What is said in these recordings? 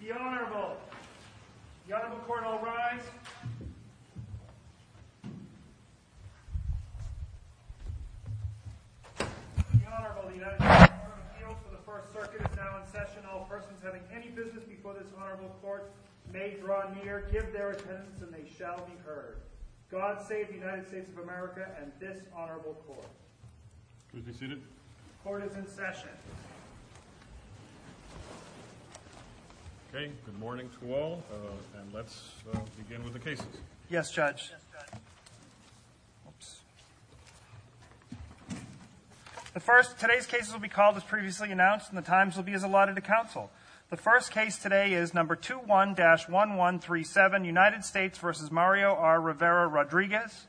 The Honourable, the United States Court of Appeals for the First Circuit is now in session. All persons having any business before this Honourable Court may draw near, give their attendance and they shall be heard. God save the United States of America and this Honourable Court. Could we be seated? The Court is in session. Okay, good morning to all and let's begin with the cases. Yes, Judge. Today's cases will be called as previously announced and the times will be as allotted to counsel. The first case today is No. 21-1137, United States v. Mario R. Rivera-Rodriguez.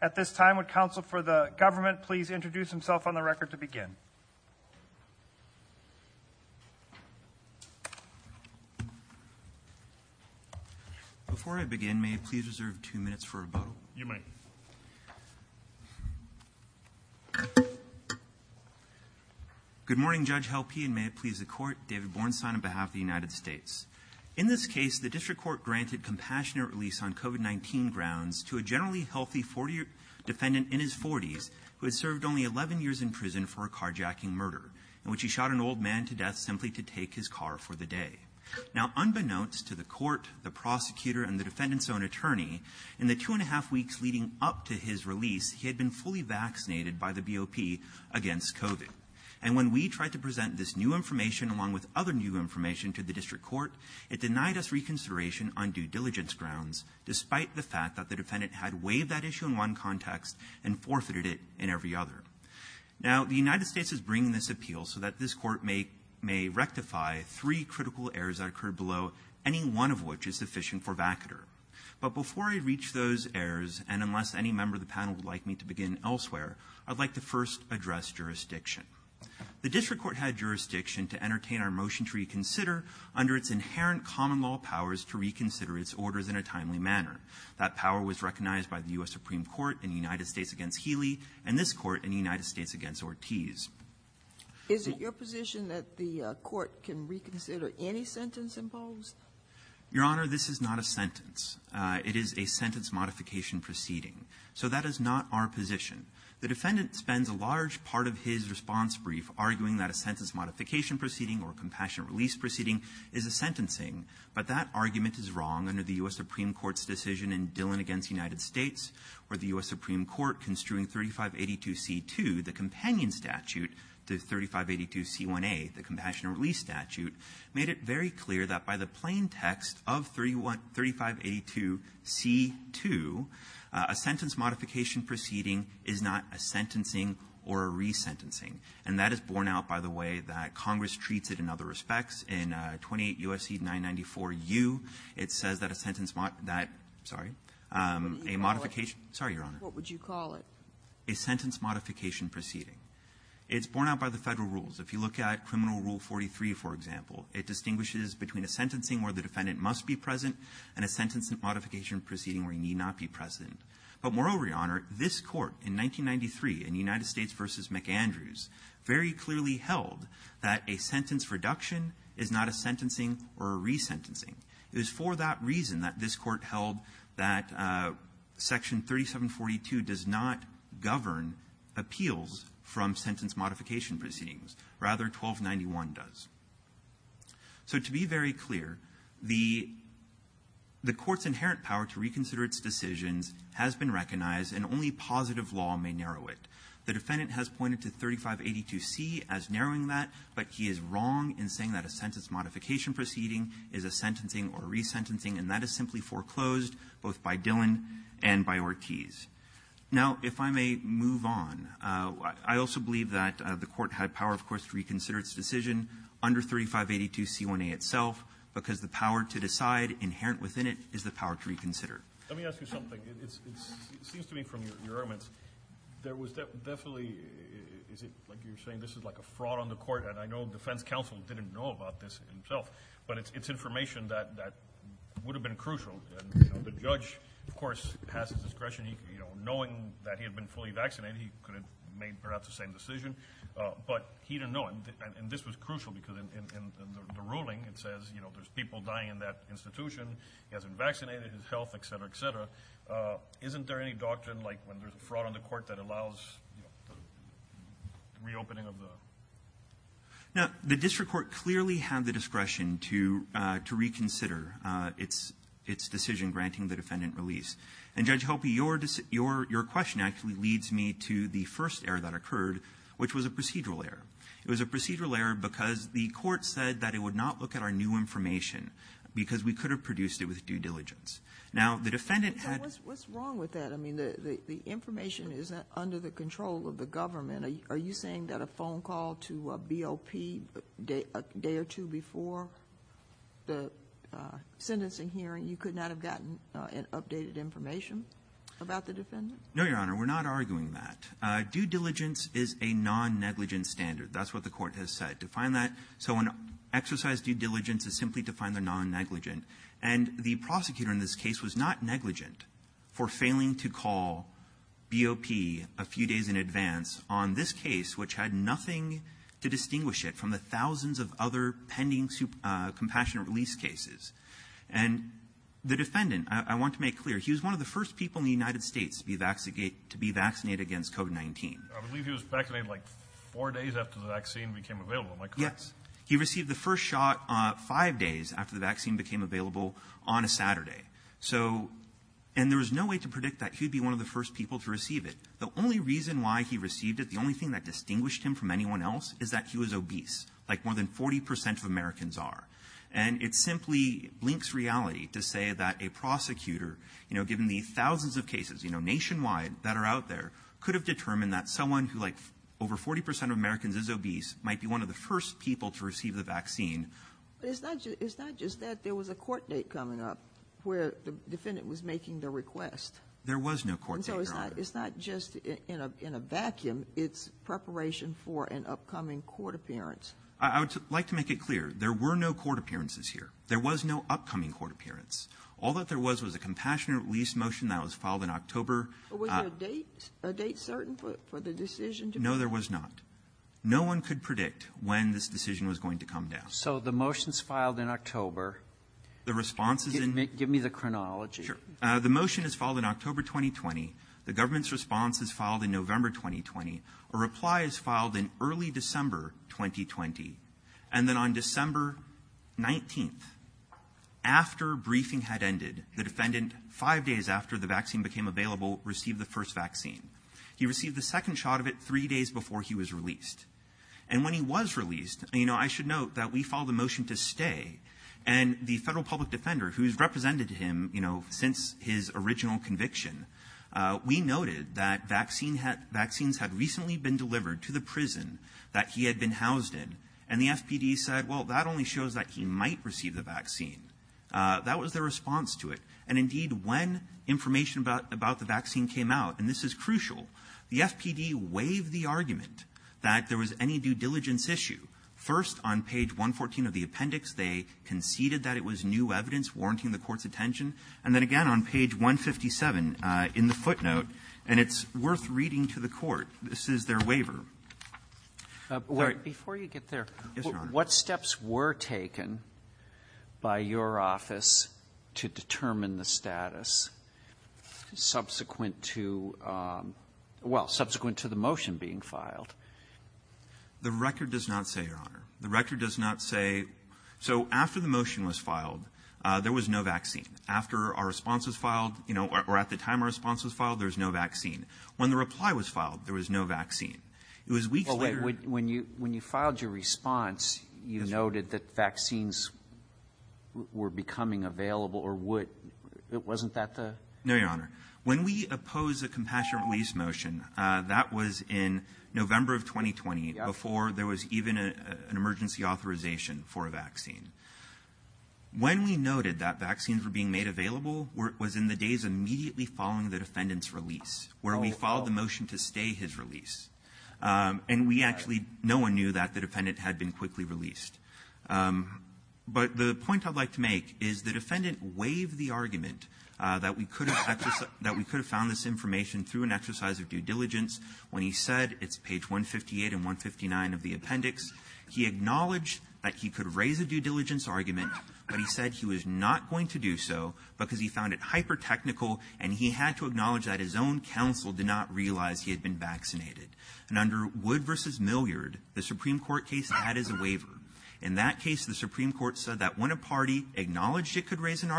At this time, would counsel for the government please introduce himself on the record to begin? Before I begin, may I please reserve two minutes for rebuttal? You may. Good morning, Judge Helpe, and may it please the Court. David Bornstein on behalf of the United States. In this case, the district court granted compassionate release on COVID-19 grounds to a generally healthy 40-year defendant in his 40s who had served only 11 years in prison for a carjacking murder, in which he shot an old man to death simply to take his car for the day. Now, unbeknownst to the court, the prosecutor, and the defendant's own attorney, in the two and a half weeks leading up to his release, he had been fully vaccinated by the BOP against COVID. And when we tried to present this new information along with other new information to the district court, it denied us reconsideration on due diligence grounds, despite the fact that the defendant had waived that issue in one context and forfeited it in every other. Now, the United States is bringing this appeal so that this court may rectify three critical errors that occurred below, any one of which is sufficient for vacatur. But before I reach those errors, and unless any member of the panel would like me to begin elsewhere, I'd like to first address jurisdiction. The district court had jurisdiction to entertain our motion to reconsider under its inherent common law powers to reconsider its orders in a timely manner. That power was recognized by the U.S. Supreme Court in the United States against Healy and this court in the United States against Ortiz. Is it your position that the court can reconsider any sentence imposed? Your Honor, this is not a sentence. It is a sentence modification proceeding. So that is not our position. The defendant spends a large part of his response brief arguing that a sentence modification proceeding or compassionate release proceeding is a sentencing. But that argument is wrong under the U.S. Supreme Court's decision in Dillon against the United States or the U.S. Supreme Court construing 3582C2, the companion statute, to 3582C1A, the compassionate release statute, made it very clear that by the plaintext of 3582C2, a sentence modification proceeding is not a sentencing or a resentencing. And that is borne out by the way that Congress treats it in other respects. In 28 U.S.C. 994U, it says that a sentence mod that sorry, a modification. Sorry, Your Honor. What would you call it? A sentence modification proceeding. It's borne out by the Federal rules. If you look at Criminal Rule 43, for example, it distinguishes between a sentencing where the defendant must be present and a sentence modification proceeding where he need not be present. But moreover, Your Honor, this Court in 1993, in United States v. McAndrews, very clearly held that a sentence reduction is not a sentencing or a resentencing. It was for that reason that this Court held that Section 3742 does not govern appeals from sentence modification proceedings. Rather, 1291 does. So to be very clear, the Court's inherent power to reconsider its decisions has been recognized, and only positive law may narrow it. The defendant has pointed to 3582C as narrowing that, but he is wrong in saying that a sentence modification proceeding is a sentencing or a resentencing, and that is simply foreclosed both by Dillon and by Ortiz. Now, if I may move on, I also believe that the Court had power, of course, to reconsider its decision under 3582C1A itself, because the power to decide inherent within it is the power to reconsider. Let me ask you something. It seems to me from your arguments, there was definitely, is it like you're saying, this is like a fraud on the Court, and I know the defense counsel didn't know about this himself, but it's information that would have been crucial. The judge, of course, has discretion, knowing that he had been fully vaccinated, he could have made perhaps the same decision, but he didn't know, and this was crucial because in the ruling, it says, you know, there's people dying in that institution, he hasn't vaccinated, his health, et cetera, et cetera. Isn't there any doctrine like when there's a fraud on the Court that allows reopening of the... Now, the district court clearly had the discretion to reconsider its decision granting the defendant release. And Judge Hopey, your question actually leads me to the first error that occurred, which was a procedural error. It was a procedural error because the Court said that it would not look at our new information because we could have produced it with due diligence. Now, the defendant had... What's wrong with that? I mean, the information is under the control of the government. Are you saying that a phone call to BOP a day or two before the sentencing hearing, you could not have gotten an updated information about the defendant? No, Your Honor, we're not arguing that. Due diligence is a non-negligent standard. That's what the Court has said. To find that... So an exercise due diligence is simply to find the non-negligent. And the prosecutor in this case was not negligent for failing to call BOP a few days in advance on this case, which had nothing to distinguish it from the thousands of other pending compassionate release cases. And the defendant, I want to make clear, he was one of the first people in the United States to be vaccinated against COVID-19. I believe he was vaccinated like four days after the vaccine became available. Am I correct? Yes. He received the first shot five days after the vaccine became available on a Saturday. So, and there was no way to predict that he'd be one of the first people to receive it. The only reason why he received it, the only thing that distinguished him from anyone else, is that he was obese, like more than 40 percent of Americans are. And it simply blinks reality to say that a prosecutor, you know, given the thousands of cases, you know, nationwide that are out there, could have determined that someone who, like, over 40 percent of Americans is obese might be one of the first people to receive the vaccine. But it's not just that there was a court date coming up where the defendant was making the request. There was no court date, Your Honor. It's not just in a vacuum. It's preparation for an upcoming court appearance. I would like to make it clear. There were no court appearances here. There was no upcoming court appearance. All that there was was a compassionate release motion that was filed in October. Was there a date certain for the decision? No, there was not. No one could predict when this decision was going to come down. So, the motion's filed in October. The response is in— Give me the chronology. The motion is filed in October 2020. The government's response is filed in November 2020. A reply is filed in early December 2020. And then on December 19th, after briefing had ended, the defendant, five days after the vaccine became available, received the first vaccine. He received the second shot of it three days before he was released. And when he was released, you know, I should note that we filed a motion to stay. And the Federal Public Defender, who's represented him, you know, since his original conviction, we noted that vaccines had recently been delivered to the prison that he had been housed in. And the FPD said, well, that only shows that he might receive the vaccine. That was their response to it. And, indeed, when information about the vaccine came out, and this is crucial, the FPD waived the argument that there was any due diligence issue. First, on page 114 of the appendix, they conceded that it was new evidence warranting the court's attention. And then, again, on page 157 in the footnote, and it's worth reading to the court, this is their waiver. Sorry. Before you get there, what steps were taken by your office to determine the status subsequent to — well, subsequent to the motion being filed? The record does not say, Your Honor. The record does not say — so after the motion was filed, there was no vaccine. After our response was filed, you know, or at the time our response was filed, there was no vaccine. When the reply was filed, there was no vaccine. It was weeks later — When you filed your response, you noted that vaccines were becoming available, or would — wasn't that the — No, Your Honor. When we oppose a compassionate release motion, that was in November of 2020 before there was even an emergency authorization for a vaccine. When we noted that vaccines were being made available was in the days immediately following the defendant's release, where we filed the motion to stay his release. And we actually — no one knew that the defendant had been quickly released. But the point I'd like to make is the defendant waived the argument that we could have found this information through an exercise of due diligence when he said — it's page 158 and 159 of the appendix — he acknowledged that he could raise a due diligence argument, but he said he was not going to do so because he found it hyper-technical and he had to acknowledge that his own counsel did not realize he had been vaccinated. And under Wood v. Milliard, the Supreme Court case had his waiver. In that case, the Supreme Court said that when a party acknowledged it could raise an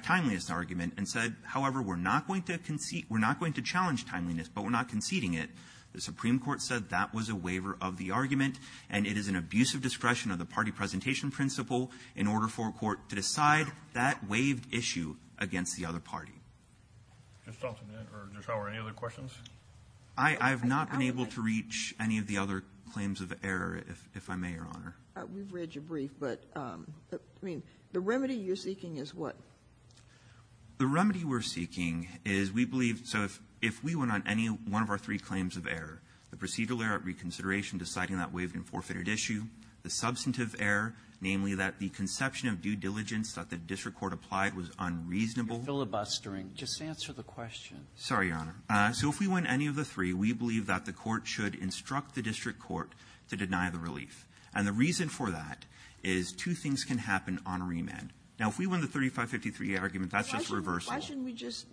timeliness argument and said, however, we're not going to concede — we're not going to challenge timeliness, but we're not conceding it, the Supreme Court said that was a waiver of the argument. And it is an abuse of discretion of the party presentation principle in order for a court to decide that waived issue against the other party. MR. MILLIARD, I have not been able to reach any of the other claims of error, if I may, Your Honor. MS. MILLIARD, the remedy we're seeking is we believe — so if we went on any one of our three claims of error, the procedural error at reconsideration deciding that waived and forfeited issue, the substantive error, namely, that the conception of due diligence that the district court applied was unreasonable — Sotomayor, you're filibustering. Just answer the question. MR. MILLIARD, sorry, Your Honor. So if we win any of the three, we believe that the court should instruct the district court to deny the relief. And the reason for that is two things can happen on a remand. Now, if we win the 3553 argument, that's just reversal. Why shouldn't we just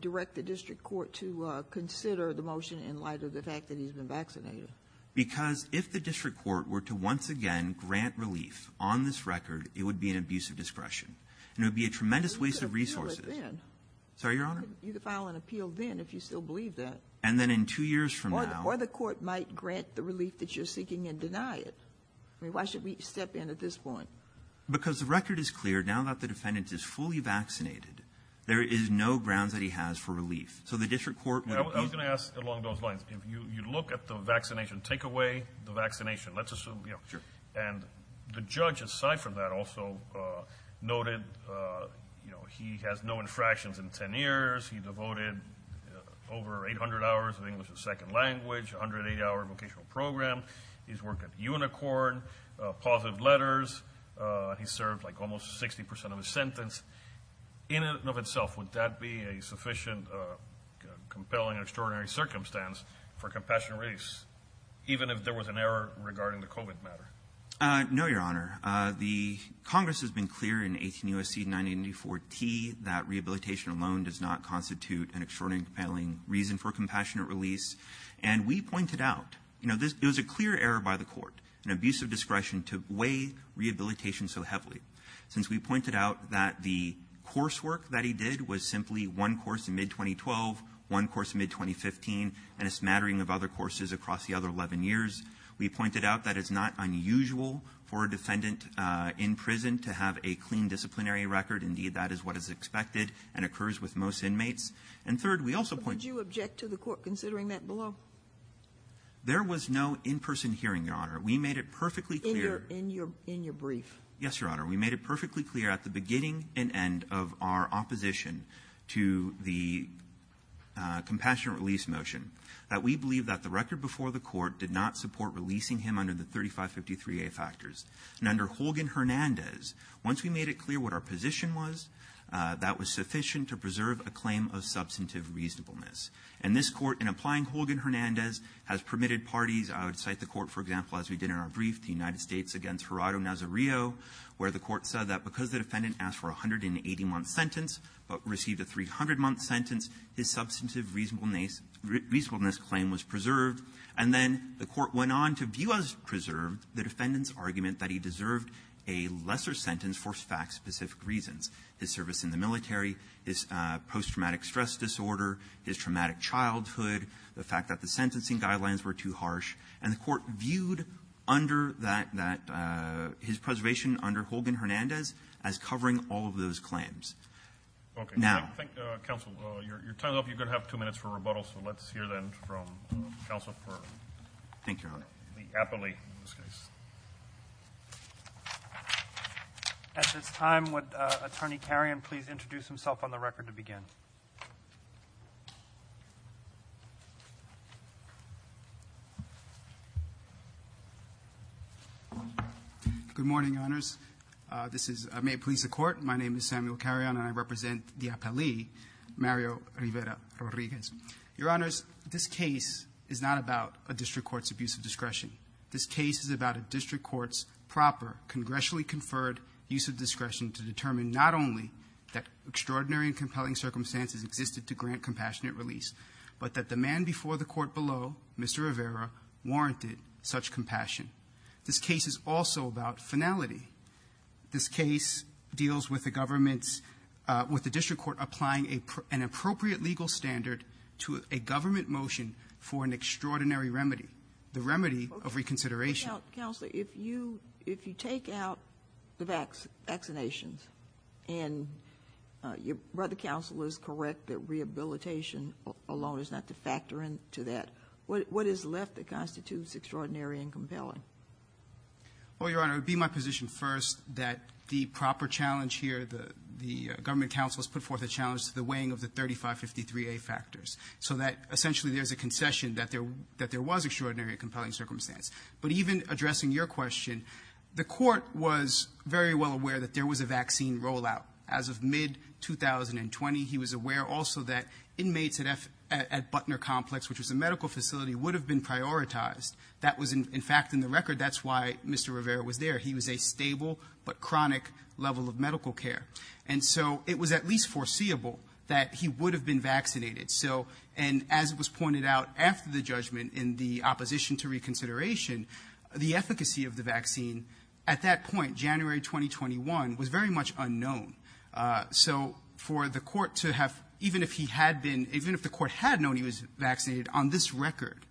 direct the district court to consider the motion in light of the fact that he's been vaccinated? Because if the district court were to once again grant relief on this record, it would be an abuse of discretion. And it would be a tremendous waste of resources. You could file an appeal then. Sorry, Your Honor? You could file an appeal then if you still believe that. And then in two years from now — Or the court might grant the relief that you're seeking and deny it. Why should we step in at this point? Because the record is clear. Now that the defendant is fully vaccinated, there is no grounds that he has for relief. So the district court — I was going to ask along those lines. If you look at the vaccination takeaway, the vaccination, let's assume — Sure. And the judge, aside from that, also noted he has no infractions in 10 years. He devoted over 800 hours of English as second language, 108-hour vocational program. He's worked at Unicorn, Positive Letters. He served like almost 60 percent of his sentence. In and of itself, would that be a sufficient, compelling, extraordinary circumstance for compassionate release, even if there was an error regarding the COVID matter? No, Your Honor. The Congress has been clear in 18 U.S.C. 984-T that rehabilitation alone does not constitute an extraordinarily compelling reason for compassionate release. And we pointed out — you know, it was a clear error by the court, an abuse of discretion, to weigh rehabilitation so heavily. Since we pointed out that the coursework that he did was simply one course in mid-2012, one course in mid-2015, and a smattering of other courses across the other 11 years, we pointed out that it's not unusual for a defendant in prison to have a clean disciplinary record. Indeed, that is what is expected and occurs with most inmates. And third, we also — Considering that below. There was no in-person hearing, Your Honor. We made it perfectly clear — In your brief. Yes, Your Honor. We made it perfectly clear at the beginning and end of our opposition to the compassionate release motion that we believe that the record before the court did not support releasing him under the 3553a factors. And under Holgan-Hernandez, once we made it clear what our position was, that was sufficient to preserve a claim of substantive reasonableness. And this Court, in applying Holgan-Hernandez, has permitted parties — I would cite the Court, for example, as we did in our brief, the United States v. Gerardo Nazario, where the Court said that because the defendant asked for a 180-month sentence but received a 300-month sentence, his substantive reasonableness claim was preserved. And then the Court went on to view as preserved the defendant's argument that he deserved a lesser sentence for fact-specific reasons. His service in the military, his post-traumatic stress disorder, his traumatic childhood, the fact that the sentencing guidelines were too harsh. And the Court viewed under that — his preservation under Holgan-Hernandez as covering all of those claims. Okay. Now — Thank you, counsel. Your time's up. You're going to have two minutes for rebuttal, so let's hear then from counsel for — Thank you, Your Honor. — the appellate in this case. At this time, would Attorney Carrion please introduce himself on the record to begin? Good morning, Your Honors. This is — may it please the Court, my name is Samuel Carrion, and I represent the appellee Mario Rivera-Rodriguez. Your Honors, this case is not about a district court's abuse of discretion. This case is about a district court's proper, congressionally-conferred use of discretion to determine not only that extraordinary and compelling circumstances existed to grant compassionate release, but that the man before the court below, Mr. Rivera, warranted such compassion. This case is also about finality. This case deals with the government's — with the district court applying an appropriate legal standard to a government motion for an extraordinary remedy. The remedy of reconsideration — Counselor, if you — if you take out the vaccinations and your brother counsel is correct that rehabilitation alone is not to factor into that, what is left that constitutes extraordinary and compelling? Well, Your Honor, it would be my position first that the proper challenge here, the government counsel has put forth a challenge to the weighing of the 3553A factors, so that essentially there's a concession that there was extraordinary and compelling circumstance. But even addressing your question, the court was very well aware that there was a vaccine rollout. As of mid-2020, he was aware also that inmates at Butner Complex, which was a medical facility, would have been prioritized. That was, in fact, in the record. That's why Mr. Rivera was there. He was a stable but chronic level of medical care. And so it was at least foreseeable that he would have been vaccinated. So — and as it was pointed out after the judgment in the opposition to reconsideration, the efficacy of the vaccine at that point, January 2021, was very much unknown. So for the court to have — even if he had been — even if the court had known he was vaccinated on this record,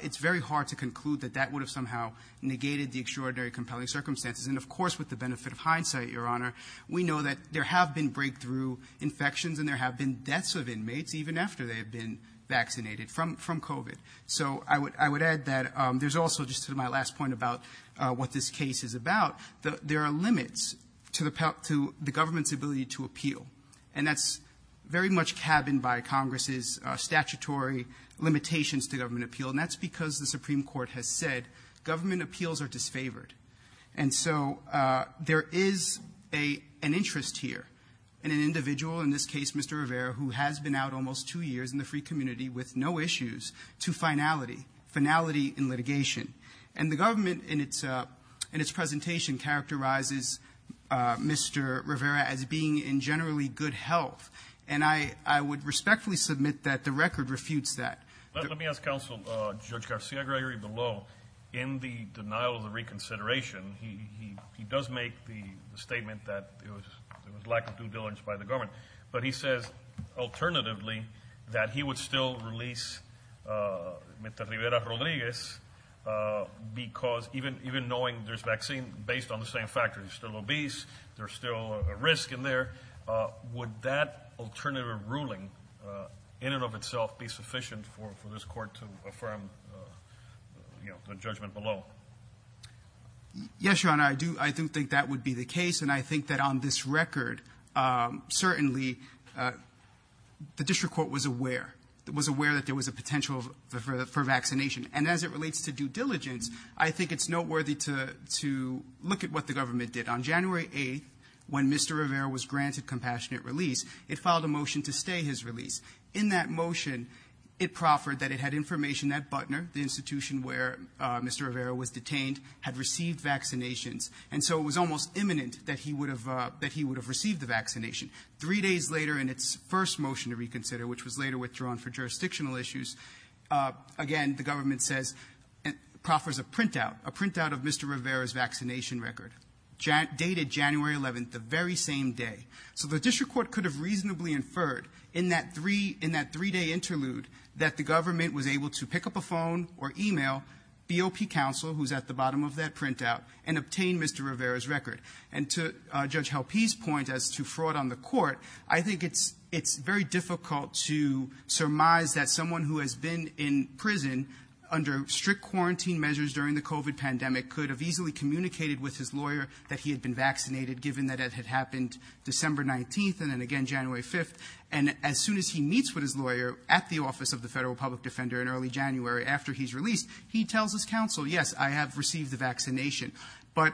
it's very hard to conclude that that would have somehow negated the extraordinary, compelling circumstances. And of course, with the benefit of hindsight, Your Honor, we know that there have been they have been vaccinated from COVID. So I would add that there's also, just to my last point about what this case is about, there are limits to the government's ability to appeal. And that's very much cabined by Congress's statutory limitations to government appeal. And that's because the Supreme Court has said government appeals are disfavored. And so there is an interest here in an individual, in this case Mr. Rivera, who has been out almost two years in the free community with no issues, to finality, finality in litigation. And the government in its presentation characterizes Mr. Rivera as being in generally good health. And I would respectfully submit that the record refutes that. Let me ask Counsel Judge Garcia-Gregory below, in the denial of the reconsideration, he does make the statement that there was lack of due diligence by the government. But he says, alternatively, that he would still release Mr. Rivera-Rodriguez because even knowing there's vaccine based on the same factors, he's still obese, there's still a risk in there. Would that alternative ruling in and of itself be sufficient for this court to affirm the judgment below? Yes, Your Honor, I do think that would be the case. And I think that on this record, certainly, the district court was aware. It was aware that there was a potential for vaccination. And as it relates to due diligence, I think it's noteworthy to look at what the government did. On January 8th, when Mr. Rivera was granted compassionate release, it filed a motion to stay his release. In that motion, it proffered that it had information that Butner, the institution where Mr. Rivera was detained, had received vaccinations. And so it was almost imminent that he would have received the vaccination. Three days later, in its first motion to reconsider, which was later withdrawn for jurisdictional issues, again, the government says, proffers a printout, a printout of Mr. Rivera's vaccination record, dated January 11th, the very same day. So the district court could have reasonably inferred in that three-day interlude that the government was able to pick up a phone or email BOP counsel, who's at the And to Judge Helpe's point as to fraud on the court, I think it's very difficult to surmise that someone who has been in prison under strict quarantine measures during the COVID pandemic could have easily communicated with his lawyer that he had been vaccinated, given that it had happened December 19th and then again January 5th. And as soon as he meets with his lawyer at the Office of the Federal Public Defender in early January after he's released, he tells his counsel, yes, I have received the vaccination. But,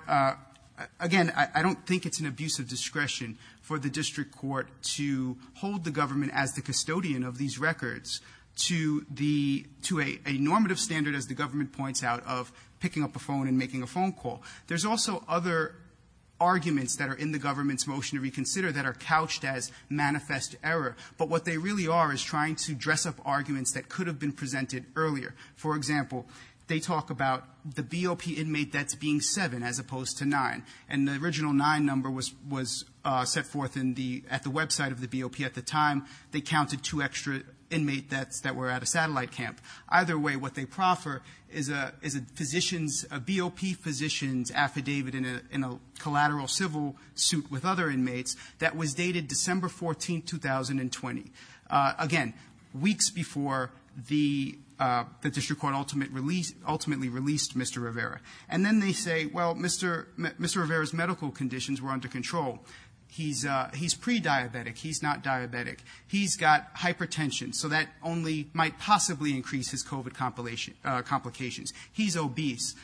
again, I don't think it's an abuse of discretion for the district court to hold the government as the custodian of these records to the – to a normative standard, as the government points out, of picking up a phone and making a phone call. There's also other arguments that are in the government's motion to reconsider that are couched as manifest error. But what they really are is trying to dress up arguments that could have been presented earlier. For example, they talk about the BOP inmate that's being seven as opposed to nine. And the original nine number was – was set forth in the – at the website of the BOP at the time. They counted two extra inmate that's – that were at a satellite camp. Either way, what they proffer is a – is a physician's – a BOP physician's affidavit in a – in a collateral civil suit with other inmates that was dated December 14th, 2020. Again, weeks before the – the district court ultimate release – ultimately released Mr. Rivera. And then they say, well, Mr. – Mr. Rivera's medical conditions were under control. He's – he's prediabetic. He's not diabetic. He's got hypertension. So that only might possibly increase his COVID complication – complications. He's obese.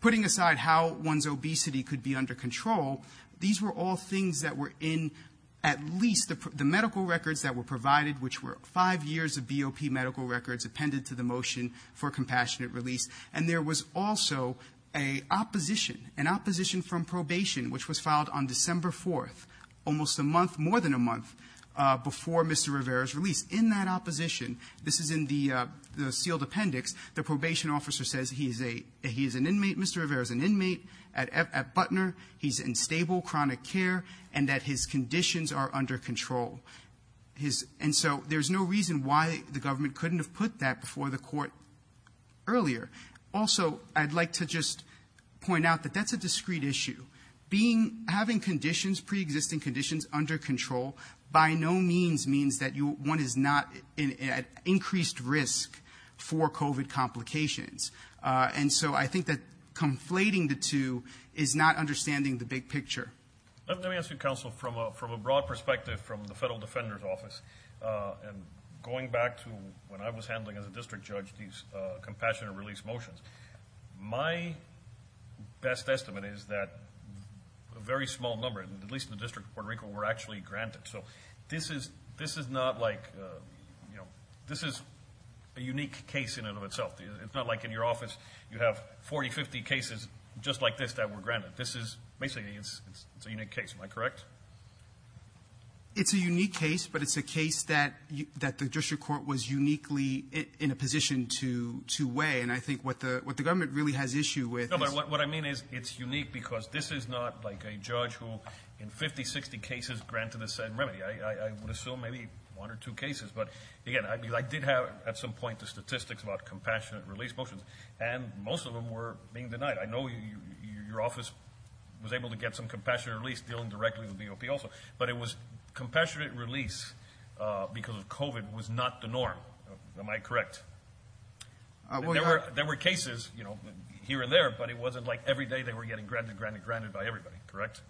Putting aside how one's obesity could be under control, these were all things that were in at least the – the medical records that were provided, which were five years of BOP medical records appended to the motion for compassionate release. And there was also a opposition – an opposition from probation, which was filed on December 4th, almost a month – more than a month before Mr. Rivera's release. In that opposition – this is in the – the sealed appendix. The probation officer says he's a – he's an inmate – Mr. Rivera's an inmate at – at chronic care and that his conditions are under control. His – and so there's no reason why the government couldn't have put that before the court earlier. Also, I'd like to just point out that that's a discrete issue. Being – having conditions – pre-existing conditions under control by no means means that you – one is not at increased risk for COVID complications. And so I think that conflating the two is not understanding the big picture. Let me ask you, counsel, from a – from a broad perspective from the Federal Defender's Office, and going back to when I was handling as a district judge these compassionate release motions, my best estimate is that a very small number, at least in the District of Puerto Rico, were actually granted. So this is – this is not like – you know, this is a unique case in and of itself. It's not like in your office you have 40, 50 cases just like this that were granted. This is – basically, it's a unique case. Am I correct? It's a unique case, but it's a case that – that the district court was uniquely in a position to – to weigh. And I think what the – what the government really has issue with is – No, but what I mean is it's unique because this is not like a judge who in 50, 60 cases granted a said remedy. I would assume maybe one or two cases. But, again, I did have at some point the statistics about compassionate release motions, and most of them were being denied. I know your office was able to get some compassionate release dealing directly with the DOP also, but it was – compassionate release because of COVID was not the norm. Am I correct? There were cases, you know, here and there, but it wasn't like every day they were getting granted, granted, granted by everybody. Correct?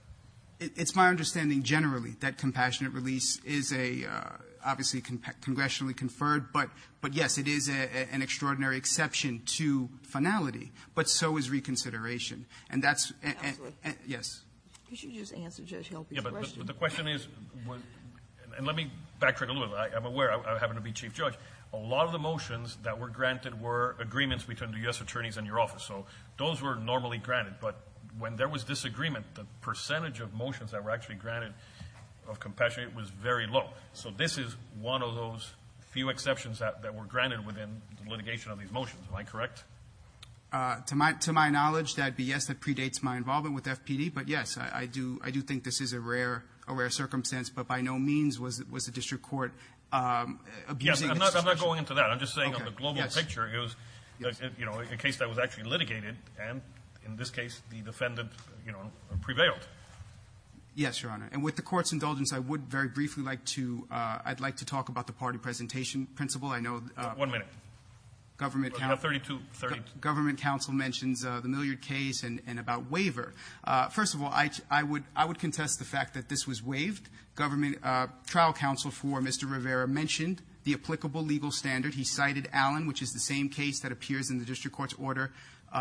It's my understanding generally that compassionate release is a – obviously, congressionally conferred, but – but, yes, it is an extraordinary exception to finality, but so is reconsideration. And that's – yes. Could you just answer Judge Helper's question? The question is – and let me backtrack a little. I'm aware. I happen to be chief judge. A lot of the motions that were granted were agreements between the U.S. attorneys and your office. Those were normally granted, but when there was disagreement, the percentage of motions that were actually granted of compassionate was very low. So this is one of those few exceptions that were granted within the litigation of these motions. Am I correct? To my knowledge, that would be yes, that predates my involvement with FPD. But, yes, I do think this is a rare circumstance, but by no means was the district court abusing the situation. Yes, I'm not going into that. I'm just saying on the global picture, it was, you know, a case that was actually litigated, and in this case, the defendant, you know, prevailed. Yes, Your Honor. And with the Court's indulgence, I would very briefly like to – I'd like to talk about the party presentation principle. I know the – One minute. Government – No, 32. 32. Government counsel mentions the Milliard case and about waiver. First of all, I would – I would contest the fact that this was waived. Government trial counsel for Mr. Rivera mentioned the applicable legal standard. He cited Allen, which is the same case that appears in the district court's order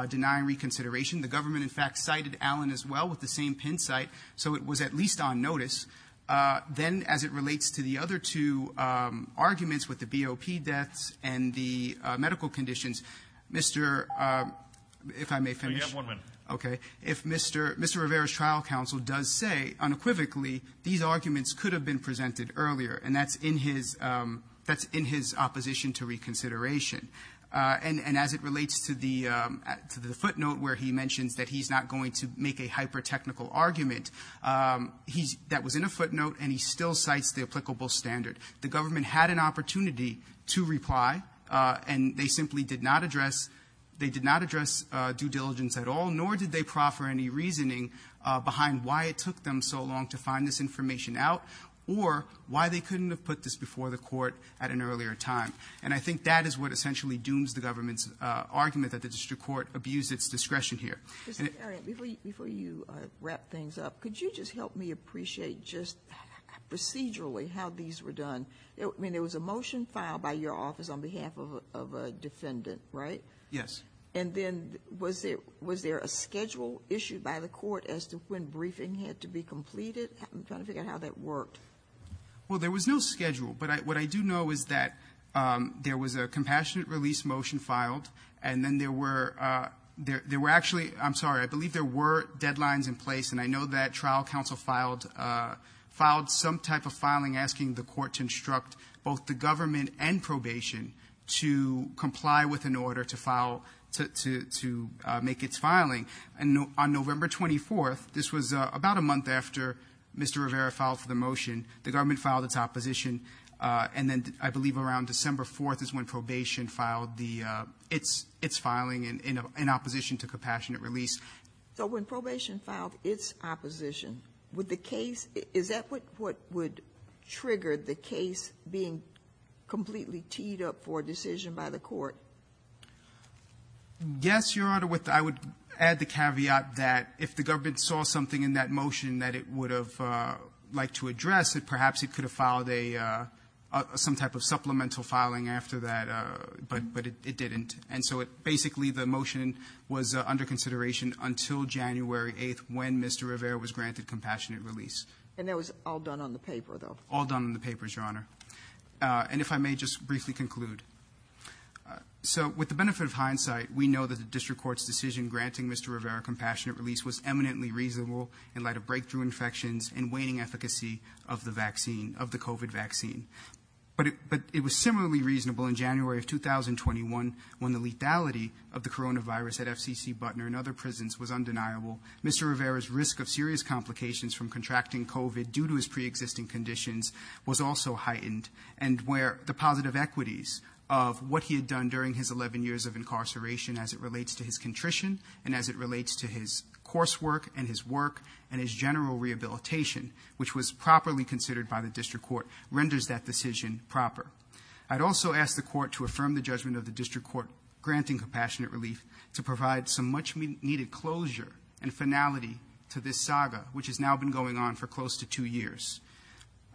denying reconsideration. The government, in fact, cited Allen as well with the same pin site, so it was at least on notice. Then, as it relates to the other two arguments with the BOP deaths and the medical conditions, Mr. – if I may finish. You have one minute. Okay. If Mr. – Mr. Rivera's trial counsel does say unequivocally these arguments could have been presented earlier, and that's in his – that's in his opposition to reconsideration. And – and as it relates to the – to the footnote where he mentions that he's not going to make a hyper-technical argument, he's – that was in a footnote, and he still cites the applicable standard. The government had an opportunity to reply, and they simply did not address – they did not address due diligence at all, nor did they proffer any reasoning behind why it took them so long to find this information out or why they couldn't have put this before the court at an earlier time. And I think that is what essentially dooms the government's argument that the district court abused its discretion here. Before you wrap things up, could you just help me appreciate just procedurally how these were done? I mean, there was a motion filed by your office on behalf of a defendant, right? Yes. And then was there – was there a schedule issued by the court as to when briefing had to be completed? I'm trying to figure out how that worked. Well, there was no schedule. But what I do know is that there was a compassionate release motion filed, and then there were – there were actually – I'm sorry, I believe there were deadlines in place, and I know that trial counsel filed – filed some type of filing asking the court to instruct both the government and probation to comply with an order to file – to make its filing. And on November 24th, this was about a month after Mr. Rivera filed for the motion, the government filed its opposition, and then I believe around December 4th is when probation filed the – its filing in opposition to compassionate release. So when probation filed its opposition, would the case – is that what would trigger the case being completely teed up for a decision by the court? Yes, Your Honor. With – I would add the caveat that if the government saw something in that motion that it would have liked to address, that perhaps it could have filed a – some type of supplemental filing after that, but – but it didn't. And so it – basically, the motion was under consideration until January 8th when Mr. Rivera was granted compassionate release. And that was all done on the paper, though? All done on the papers, Your Honor. And if I may just briefly conclude. So with the benefit of hindsight, we know that the district court's decision granting Mr. Rivera compassionate release was eminently reasonable in light of breakthrough infections and waning efficacy of the vaccine – of the COVID vaccine. But it was similarly reasonable in January of 2021 when the lethality of the coronavirus at FCC Butner and other prisons was undeniable. Mr. Rivera's risk of serious complications from contracting COVID due to his preexisting conditions was also heightened and where the positive equities of what he had done during his 11 years of incarceration as it relates to his contrition and as it relates to his coursework and his work and his general rehabilitation, which was properly considered by the district court, renders that decision proper. I'd also ask the court to affirm the judgment of the district court granting compassionate relief to provide some much-needed closure and finality to this saga, which has now been going on for close to two years.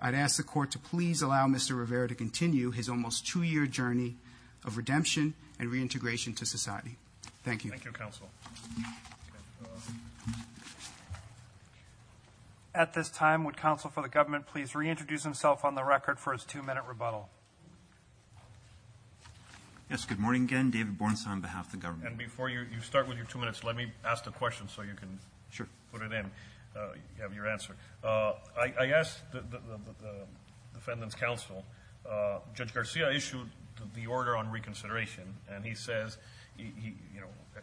I'd ask the court to please allow Mr. Rivera to continue his almost two-year journey of redemption and reintegration to society. Thank you. Thank you, counsel. At this time, would counsel for the government please reintroduce himself on the record for his two-minute rebuttal? Yes, good morning again. David Bornstein on behalf of the government. And before you start with your two minutes, let me ask the question so you can put it in, have your answer. I asked the defendant's counsel, Judge Garcia issued the order on reconsideration. And he says,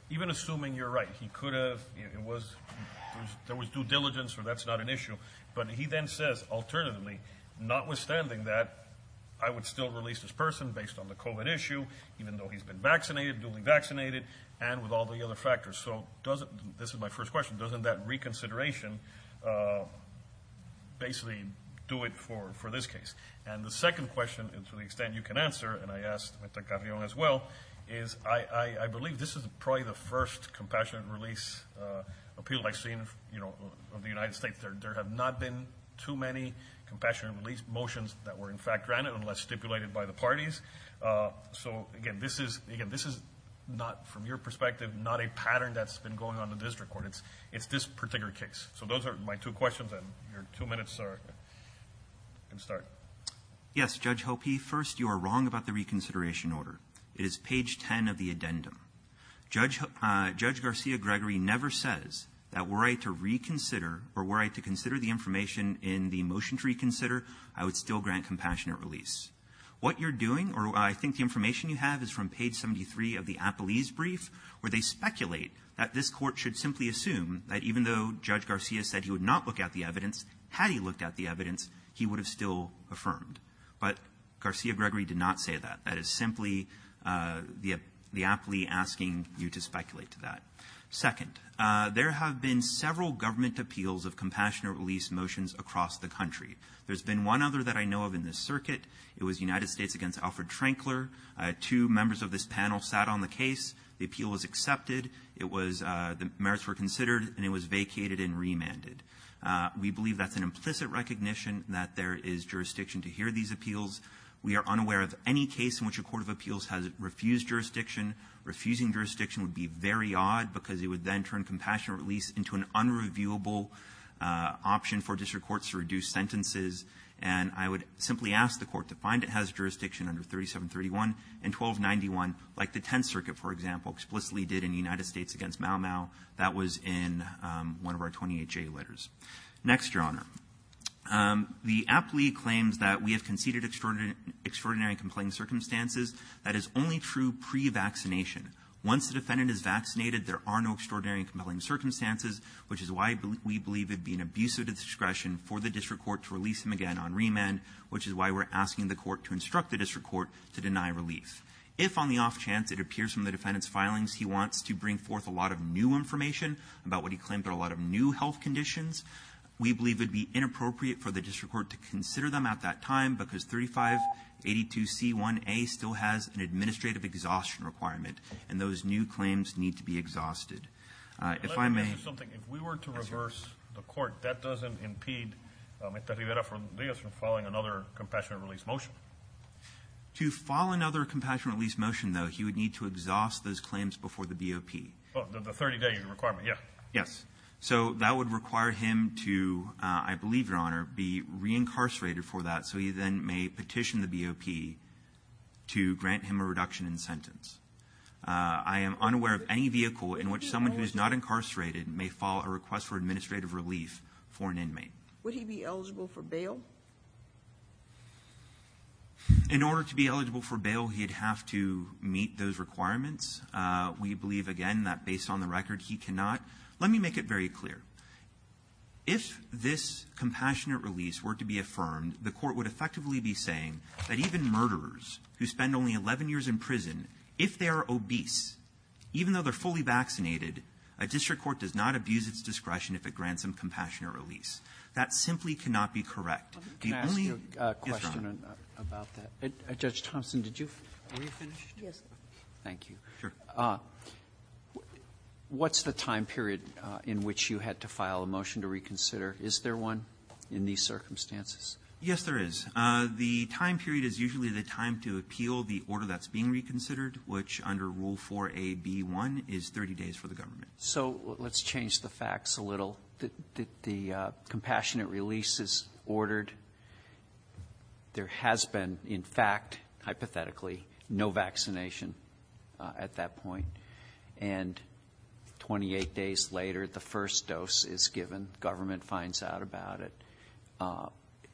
even assuming you're right, he could have, it was, there was due diligence or that's not an issue. But he then says, alternatively, notwithstanding that, I would still release this person based on the COVID issue, even though he's been vaccinated, duly vaccinated, and with all the other factors. So doesn't, this is my first question, doesn't that reconsideration basically do it for this case? And the second question, to the extent you can answer, and I asked Mr. Carrion as well, is I believe this is probably the first compassionate release appeal I've seen of the United States. There have not been too many compassionate release motions that were in fact granted unless stipulated by the parties. So again, this is, again, this is not, from your perspective, not a pattern that's been going on in the district court. It's this particular case. So those are my two questions, and your two minutes are, you can start. Yes, Judge Hoppe, first, you are wrong about the reconsideration order. It is page 10 of the addendum. Judge Garcia-Gregory never says that were I to reconsider, or were I to consider the information in the motion to reconsider, I would still grant compassionate release. What you're doing, or I think the information you have is from page 73 of the Appellee's brief, where they speculate that this Court should simply assume that even though Judge Garcia said he would not look at the evidence, had he looked at the evidence, he would have still affirmed. But Garcia-Gregory did not say that. That is simply the appellee asking you to speculate to that. Second, there have been several government appeals of compassionate release motions across the country. There's been one other that I know of in this circuit. It was United States against Alfred Trankler. Two members of this panel sat on the case. The appeal was accepted. The merits were considered, and it was vacated and remanded. We believe that's an implicit recognition that there is jurisdiction to hear these appeals. We are unaware of any case in which a court of appeals has refused jurisdiction. Refusing jurisdiction would be very odd, because it would then turn compassionate release into an unreviewable option for district courts to reduce sentences. And I would simply ask the Court to find it has jurisdiction under 3731 and 1291, like the Tenth Circuit, for example, explicitly did in United States against Mau Mau. That was in one of our 28 J letters. Next, Your Honor. The appellee claims that we have conceded extraordinary and compelling circumstances. That is only true pre-vaccination. Once the defendant is vaccinated, there are no extraordinary and compelling circumstances, which is why we believe it'd be an abuse of discretion for the district court to release him again on remand, which is why we're asking the court to instruct the district court to deny relief. If on the off chance it appears from the defendant's filings he wants to bring forth a lot of new information about what he claimed are a lot of new health conditions, we believe it'd be inappropriate for the district court to consider them at that time, because 3582C1A still has an administrative exhaustion requirement. Those new claims need to be exhausted. If I may... Let me ask you something. If we were to reverse the court, that doesn't impede Mr. Rivera-Rodriguez from filing another compassionate release motion. To file another compassionate release motion, though, he would need to exhaust those claims before the BOP. The 30-day requirement, yeah. Yes. So that would require him to, I believe, Your Honor, be re-incarcerated for that, so he then may petition the BOP to grant him a reduction in sentence. I am unaware of any vehicle in which someone who is not incarcerated may file a request for administrative relief for an inmate. Would he be eligible for bail? In order to be eligible for bail, he'd have to meet those requirements. We believe, again, that based on the record, he cannot. Let me make it very clear. If this compassionate release were to be affirmed, the court would effectively be saying that even murderers who spend only 11 years in prison, if they are obese, even though they're fully vaccinated, a district court does not abuse its discretion if it grants them compassionate release. That simply cannot be correct. Let me ask you a question about that. Judge Thompson, did you finish? Yes. Thank you. What's the time period in which you had to file a motion to reconsider? Is there one in these circumstances? Yes, there is. The time period is usually the time to appeal the order that's being reconsidered, which under Rule 4a)(b)(1), is 30 days for the government. So let's change the facts a little. The compassionate release is ordered. There has been, in fact, hypothetically, no vaccination at that point. And 28 days later, the first dose is given. Government finds out about it.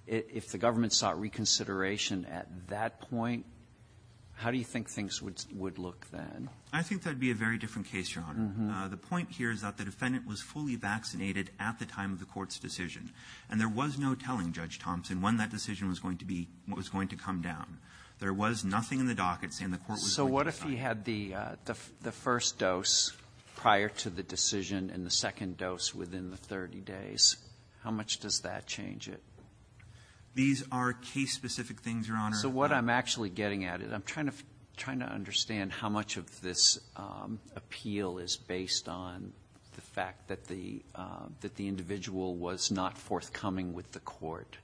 If the government sought reconsideration at that point, how do you think things would look then? I think that would be a very different case, Your Honor. The point here is that the defendant was fully vaccinated at the time of the court's decision, and there was no telling, Judge Thompson, when that decision was going to be – was going to come down. There was nothing in the docket saying the court was going to decide. So what if he had the first dose prior to the decision and the second dose within the 30 days? How much does that change it? These are case-specific things, Your Honor. So what I'm actually getting at is I'm trying to – trying to understand how much of this appeal is based on the fact that the – that the individual was not forthcoming with the court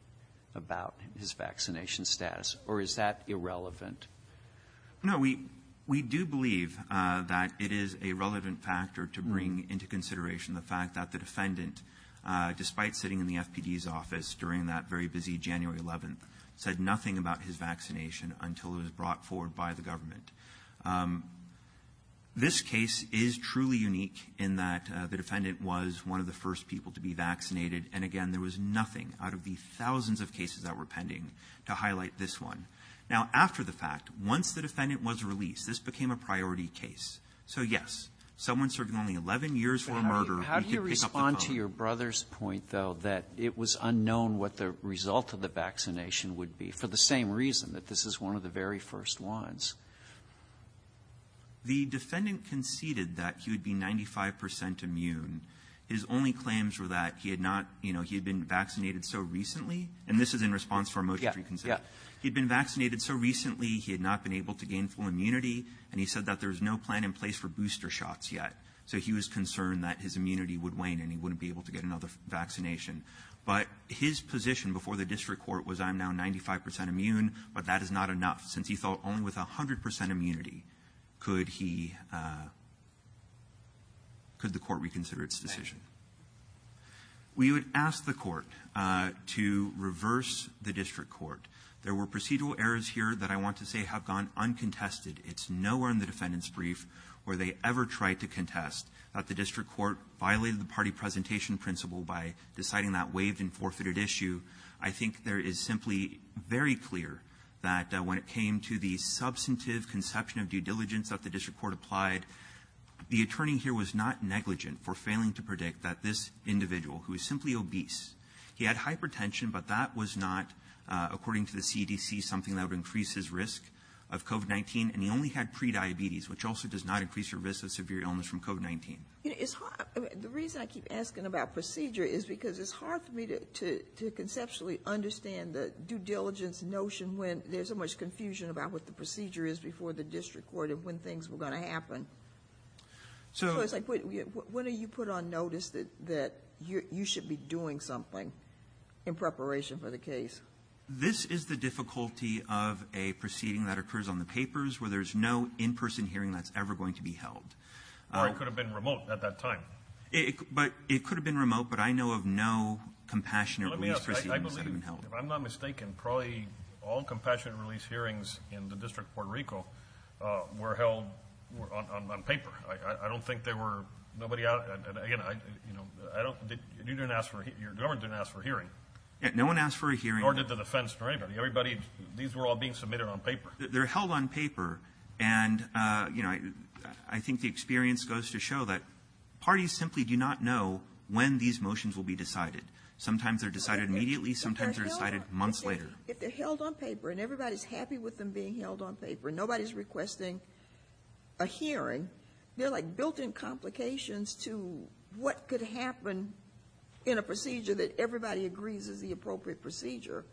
about his vaccination status, or is that irrelevant? No. We – we do believe that it is a relevant factor to bring into consideration the fact that the defendant, despite sitting in the FPD's office during that very busy January 11th, said nothing about his vaccination until it was brought forward by the government. This case is truly unique in that the defendant was one of the first people to be vaccinated, and again, there was nothing out of the thousands of cases that were pending to highlight this one. Now, after the fact, once the defendant was released, this became a priority case. So, yes, someone serving only 11 years for a murder, we could pick up the phone. But how do you – how do you respond to your brother's point, though, that it was unknown what the result of the vaccination would be, for the same reason, that this is one of the very first ones? The defendant conceded that he would be 95 percent immune. His only claims were that he had not – you know, he had been vaccinated so recently – and this is in response to our motion to reconsider. Yeah. Yeah. He had been vaccinated so recently, he had not been able to gain full immunity, and he said that there was no plan in place for booster shots yet. So he was concerned that his immunity would wane and he wouldn't be able to get another vaccination. But his position before the district court was, I'm now 95 percent immune, but that is not enough, since he thought only with 100 percent immunity could he – could the court reconsider its decision. We would ask the court to reverse the district court. There were procedural errors here that I want to say have gone uncontested. It's nowhere in the defendant's brief where they ever tried to contest that the district court violated the party presentation principle by deciding that waived and forfeited issue. I think there is simply very clear that when it came to the substantive conception of due diligence that the district court applied, the attorney here was not negligent for failing to predict that this individual, who is simply obese – he had hypertension, but that was not, according to the CDC, something that would increase his risk of COVID-19. And he only had prediabetes, which also does not increase your risk of severe illness from COVID-19. You know, it's hard – the reason I keep asking about procedure is because it's hard for me to conceptually understand the due diligence notion when there's so much confusion about what the procedure is before the district court and when things were going to happen. So it's like, when are you put on notice that you should be doing something in preparation for the case? This is the difficulty of a proceeding that occurs on the papers where there's no in-person hearing that's ever going to be held. Or it could have been remote at that time. But it could have been remote, but I know of no compassionate release proceedings that have been held. I believe, if I'm not mistaken, probably all compassionate release hearings in the District of Puerto Rico were held on paper. I don't think there were nobody out – again, I don't – you didn't ask for – your government didn't ask for a hearing. No one asked for a hearing. Nor did the defense or anybody. Everybody – these were all being submitted on paper. They're held on paper. And, you know, I think the experience goes to show that parties simply do not know when these motions will be decided. Sometimes they're decided immediately. Sometimes they're decided months later. If they're held on paper and everybody's happy with them being held on paper, nobody's requesting a hearing, they're like built-in complications to what could happen in a procedure that everybody agrees is the appropriate procedure.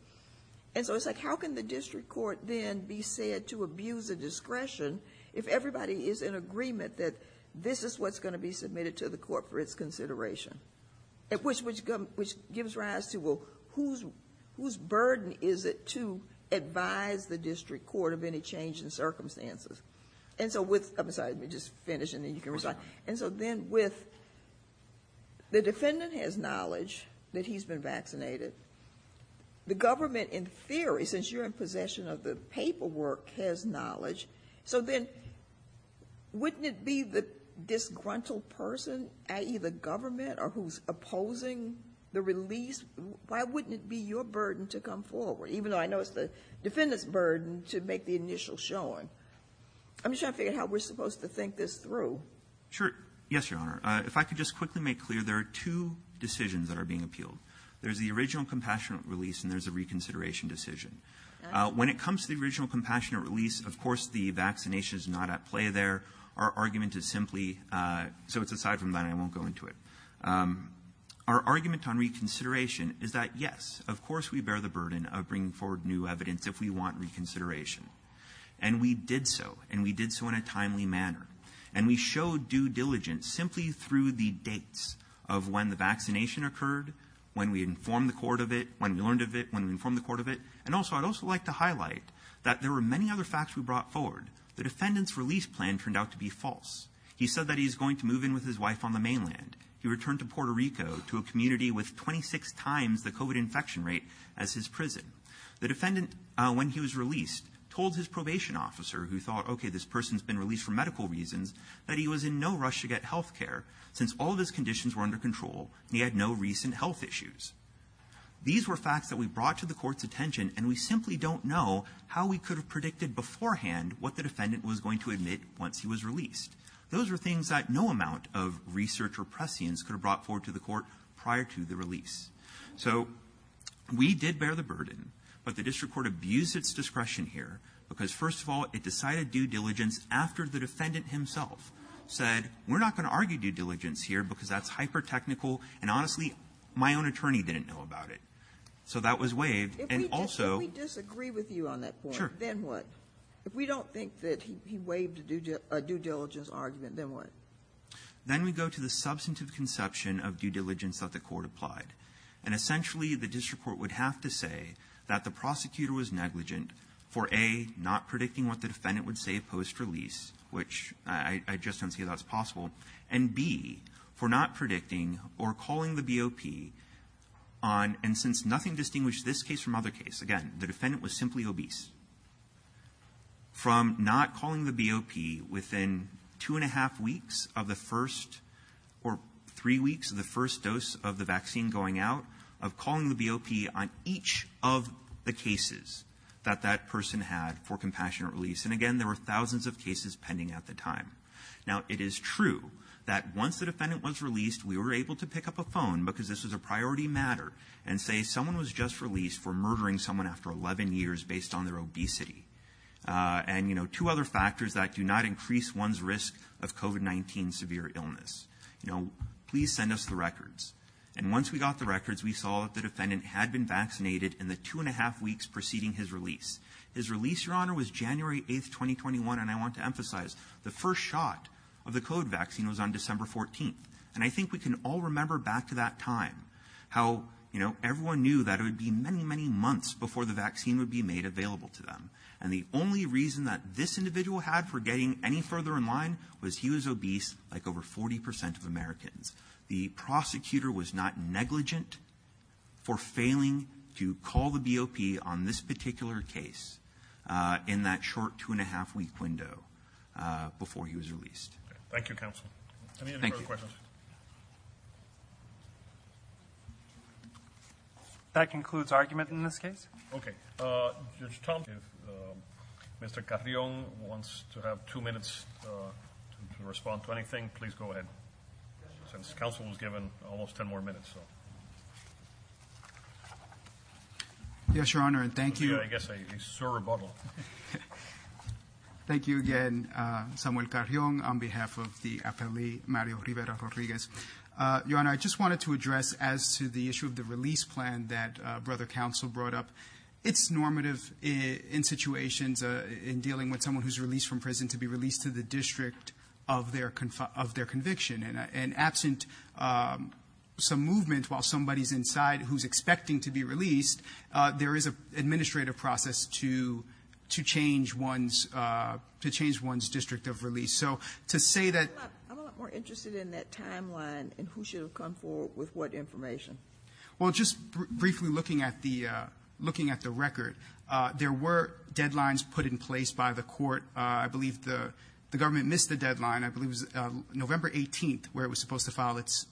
And so it's like, how can the district court then be said to abuse the discretion if everybody is in agreement that this is what's going to be submitted to the court for its consideration? Which gives rise to, well, whose burden is it to advise the district court of any change in circumstances? And so with – I'm sorry, let me just finish and then you can respond. And so then with the defendant has knowledge that he's been vaccinated, the government, in theory, since you're in possession of the paperwork, has knowledge. So then wouldn't it be the disgruntled person, i.e., the government or who's opposing the release, why wouldn't it be your burden to come forward, even though I know it's the defendant's burden to make the initial showing? I'm just trying to figure out how we're supposed to think this through. Sure. Yes, Your Honor. If I could just quickly make clear, there are two decisions that are being appealed. There's the original compassionate release and there's a reconsideration decision. When it comes to the original compassionate release, of course, the vaccination is not at play there. Our argument is simply – so it's aside from that and I won't go into it. Our argument on reconsideration is that, yes, of course we bear the burden of bringing forward new evidence if we want reconsideration. And we did so. And we did so in a timely manner. And we showed due diligence simply through the dates of when the vaccination occurred, when we informed the court of it, when we learned of it, when we informed the court of it. And also, I'd also like to highlight that there were many other facts we brought forward. The defendant's release plan turned out to be false. He said that he's going to move in with his wife on the mainland. He returned to Puerto Rico to a community with 26 times the COVID infection rate as his prison. The defendant, when he was released, told his probation officer who thought, okay, this person's been released for medical reasons, that he was in no rush to get healthcare since all of his conditions were under control and he had no recent health issues. These were facts that we brought to the court's attention and we simply don't know how we could have predicted beforehand what the defendant was going to admit once he was released. Those were things that no amount of research or prescience could have brought forward to the court prior to the release. So we did bear the burden, but the district court abused its discretion here because, first of all, it decided due diligence after the defendant himself said, we're not going to argue due diligence here because that's hyper-technical and honestly, my own attorney didn't know about it. So that was waived and also- If we disagree with you on that point, then what? If we don't think that he waived a due diligence argument, then what? Then we go to the substantive conception of due diligence that the court applied. And essentially, the district court would have to say that the prosecutor was A, not predicting what the defendant would say post-release, which I just don't see how that's possible, and B, for not predicting or calling the BOP on, and since nothing distinguished this case from other cases, again, the defendant was simply obese, from not calling the BOP within two-and-a-half weeks of the first or three weeks of the first dose of the vaccine going out, of calling the BOP on each of the And again, there were thousands of cases pending at the time. Now, it is true that once the defendant was released, we were able to pick up a phone, because this was a priority matter, and say someone was just released for murdering someone after 11 years based on their obesity. And, you know, two other factors that do not increase one's risk of COVID-19 severe illness. You know, please send us the records. And once we got the records, we saw that the defendant had been vaccinated in the two-and-a-half weeks preceding his release. His release, Your Honor, was January 8th, 2021, and I want to emphasize, the first shot of the COVID vaccine was on December 14th. And I think we can all remember back to that time how, you know, everyone knew that it would be many, many months before the vaccine would be made available to them. And the only reason that this individual had for getting any further in line was he was obese, like over 40% of Americans. The prosecutor was not negligent for failing to call the BOP on this particular case in that short two-and-a-half week window before he was released. Thank you, counsel. That concludes argument in this case. Okay. Mr. Carrion wants to have two minutes to respond to anything. Please go ahead. Since counsel was given almost 10 more minutes, so. Yes, Your Honor, and thank you. I guess I saw a rebuttal. Thank you again, Samuel Carrion, on behalf of the appellee, Mario Rivera-Rodriguez. Your Honor, I just wanted to address as to the issue of the release plan that Brother Counsel brought up. It's normative in situations in dealing with someone who's released from prison to be released to the district of their conviction. And absent some movement while somebody's inside who's expecting to be released, there is an administrative process to change one's district of release. So to say that. I'm a lot more interested in that timeline and who should have come forward with what information. Well, just briefly looking at the record, there were deadlines put in place by the government. It missed the deadline. I believe it was November 18th where it was supposed to file its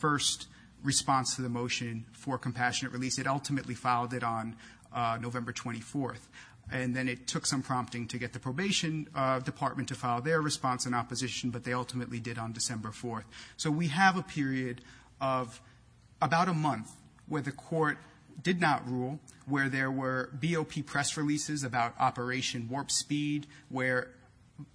first response to the motion for compassionate release. It ultimately filed it on November 24th. And then it took some prompting to get the probation department to file their response in opposition, but they ultimately did on December 4th. So we have a period of about a month where the court did not rule, where there were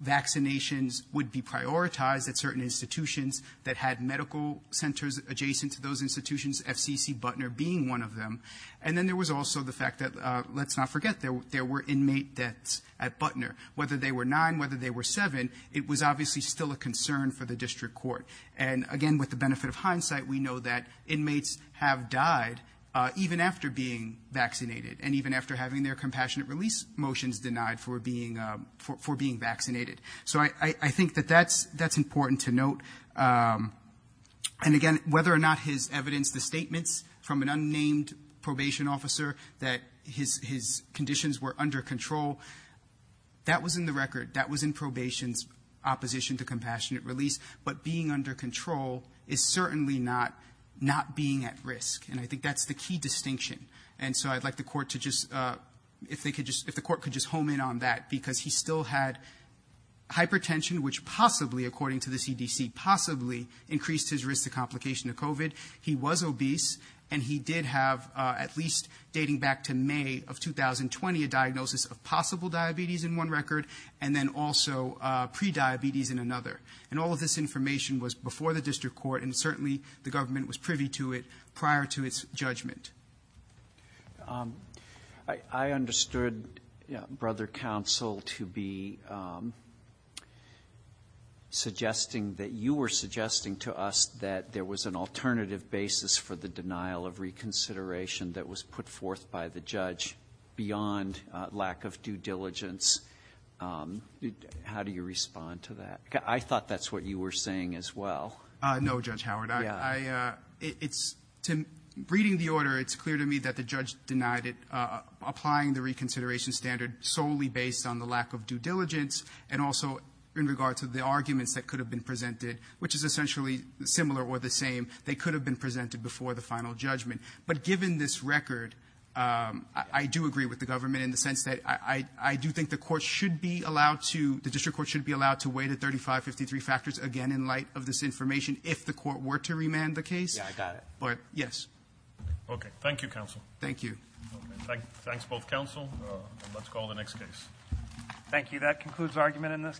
vaccinations would be prioritized at certain institutions that had medical centers adjacent to those institutions, FCC, Butner being one of them. And then there was also the fact that, let's not forget, there were inmate deaths at Butner. Whether they were nine, whether they were seven, it was obviously still a concern for the district court. And again, with the benefit of hindsight, we know that inmates have died even after being vaccinated and even after having their compassionate release motions denied for being vaccinated. So I think that that's important to note. And again, whether or not his evidence, the statements from an unnamed probation officer that his conditions were under control, that was in the record. That was in probation's opposition to compassionate release. But being under control is certainly not being at risk. And I think that's the key distinction. And so I'd like the court to just, if the court could just home in on that, because he still had hypertension, which possibly, according to the CDC, possibly increased his risk to complication of COVID. He was obese, and he did have, at least dating back to May of 2020, a diagnosis of possible diabetes in one record and then also prediabetes in another. And all of this information was before the district court, and certainly the government was privy to it prior to its judgment. I understood, Brother Counsel, to be suggesting that you were suggesting to us that there was an alternative basis for the denial of reconsideration that was put forth by the judge beyond lack of due diligence. How do you respond to that? I thought that's what you were saying as well. No, Judge Howard. It's, reading the order, it's clear to me that the judge denied it, applying the reconsideration standard solely based on the lack of due diligence and also in regard to the arguments that could have been presented, which is essentially similar or the same. They could have been presented before the final judgment. But given this record, I do agree with the government in the sense that I do think the court should be allowed to, the district court should be allowed to weigh the 3553 factors again in light of this information if the court were to remand the case. Yeah, I got it. But, yes. Okay. Thank you, Counsel. Thank you. Thanks both, Counsel. Let's call the next case. Thank you. That concludes argument in this case.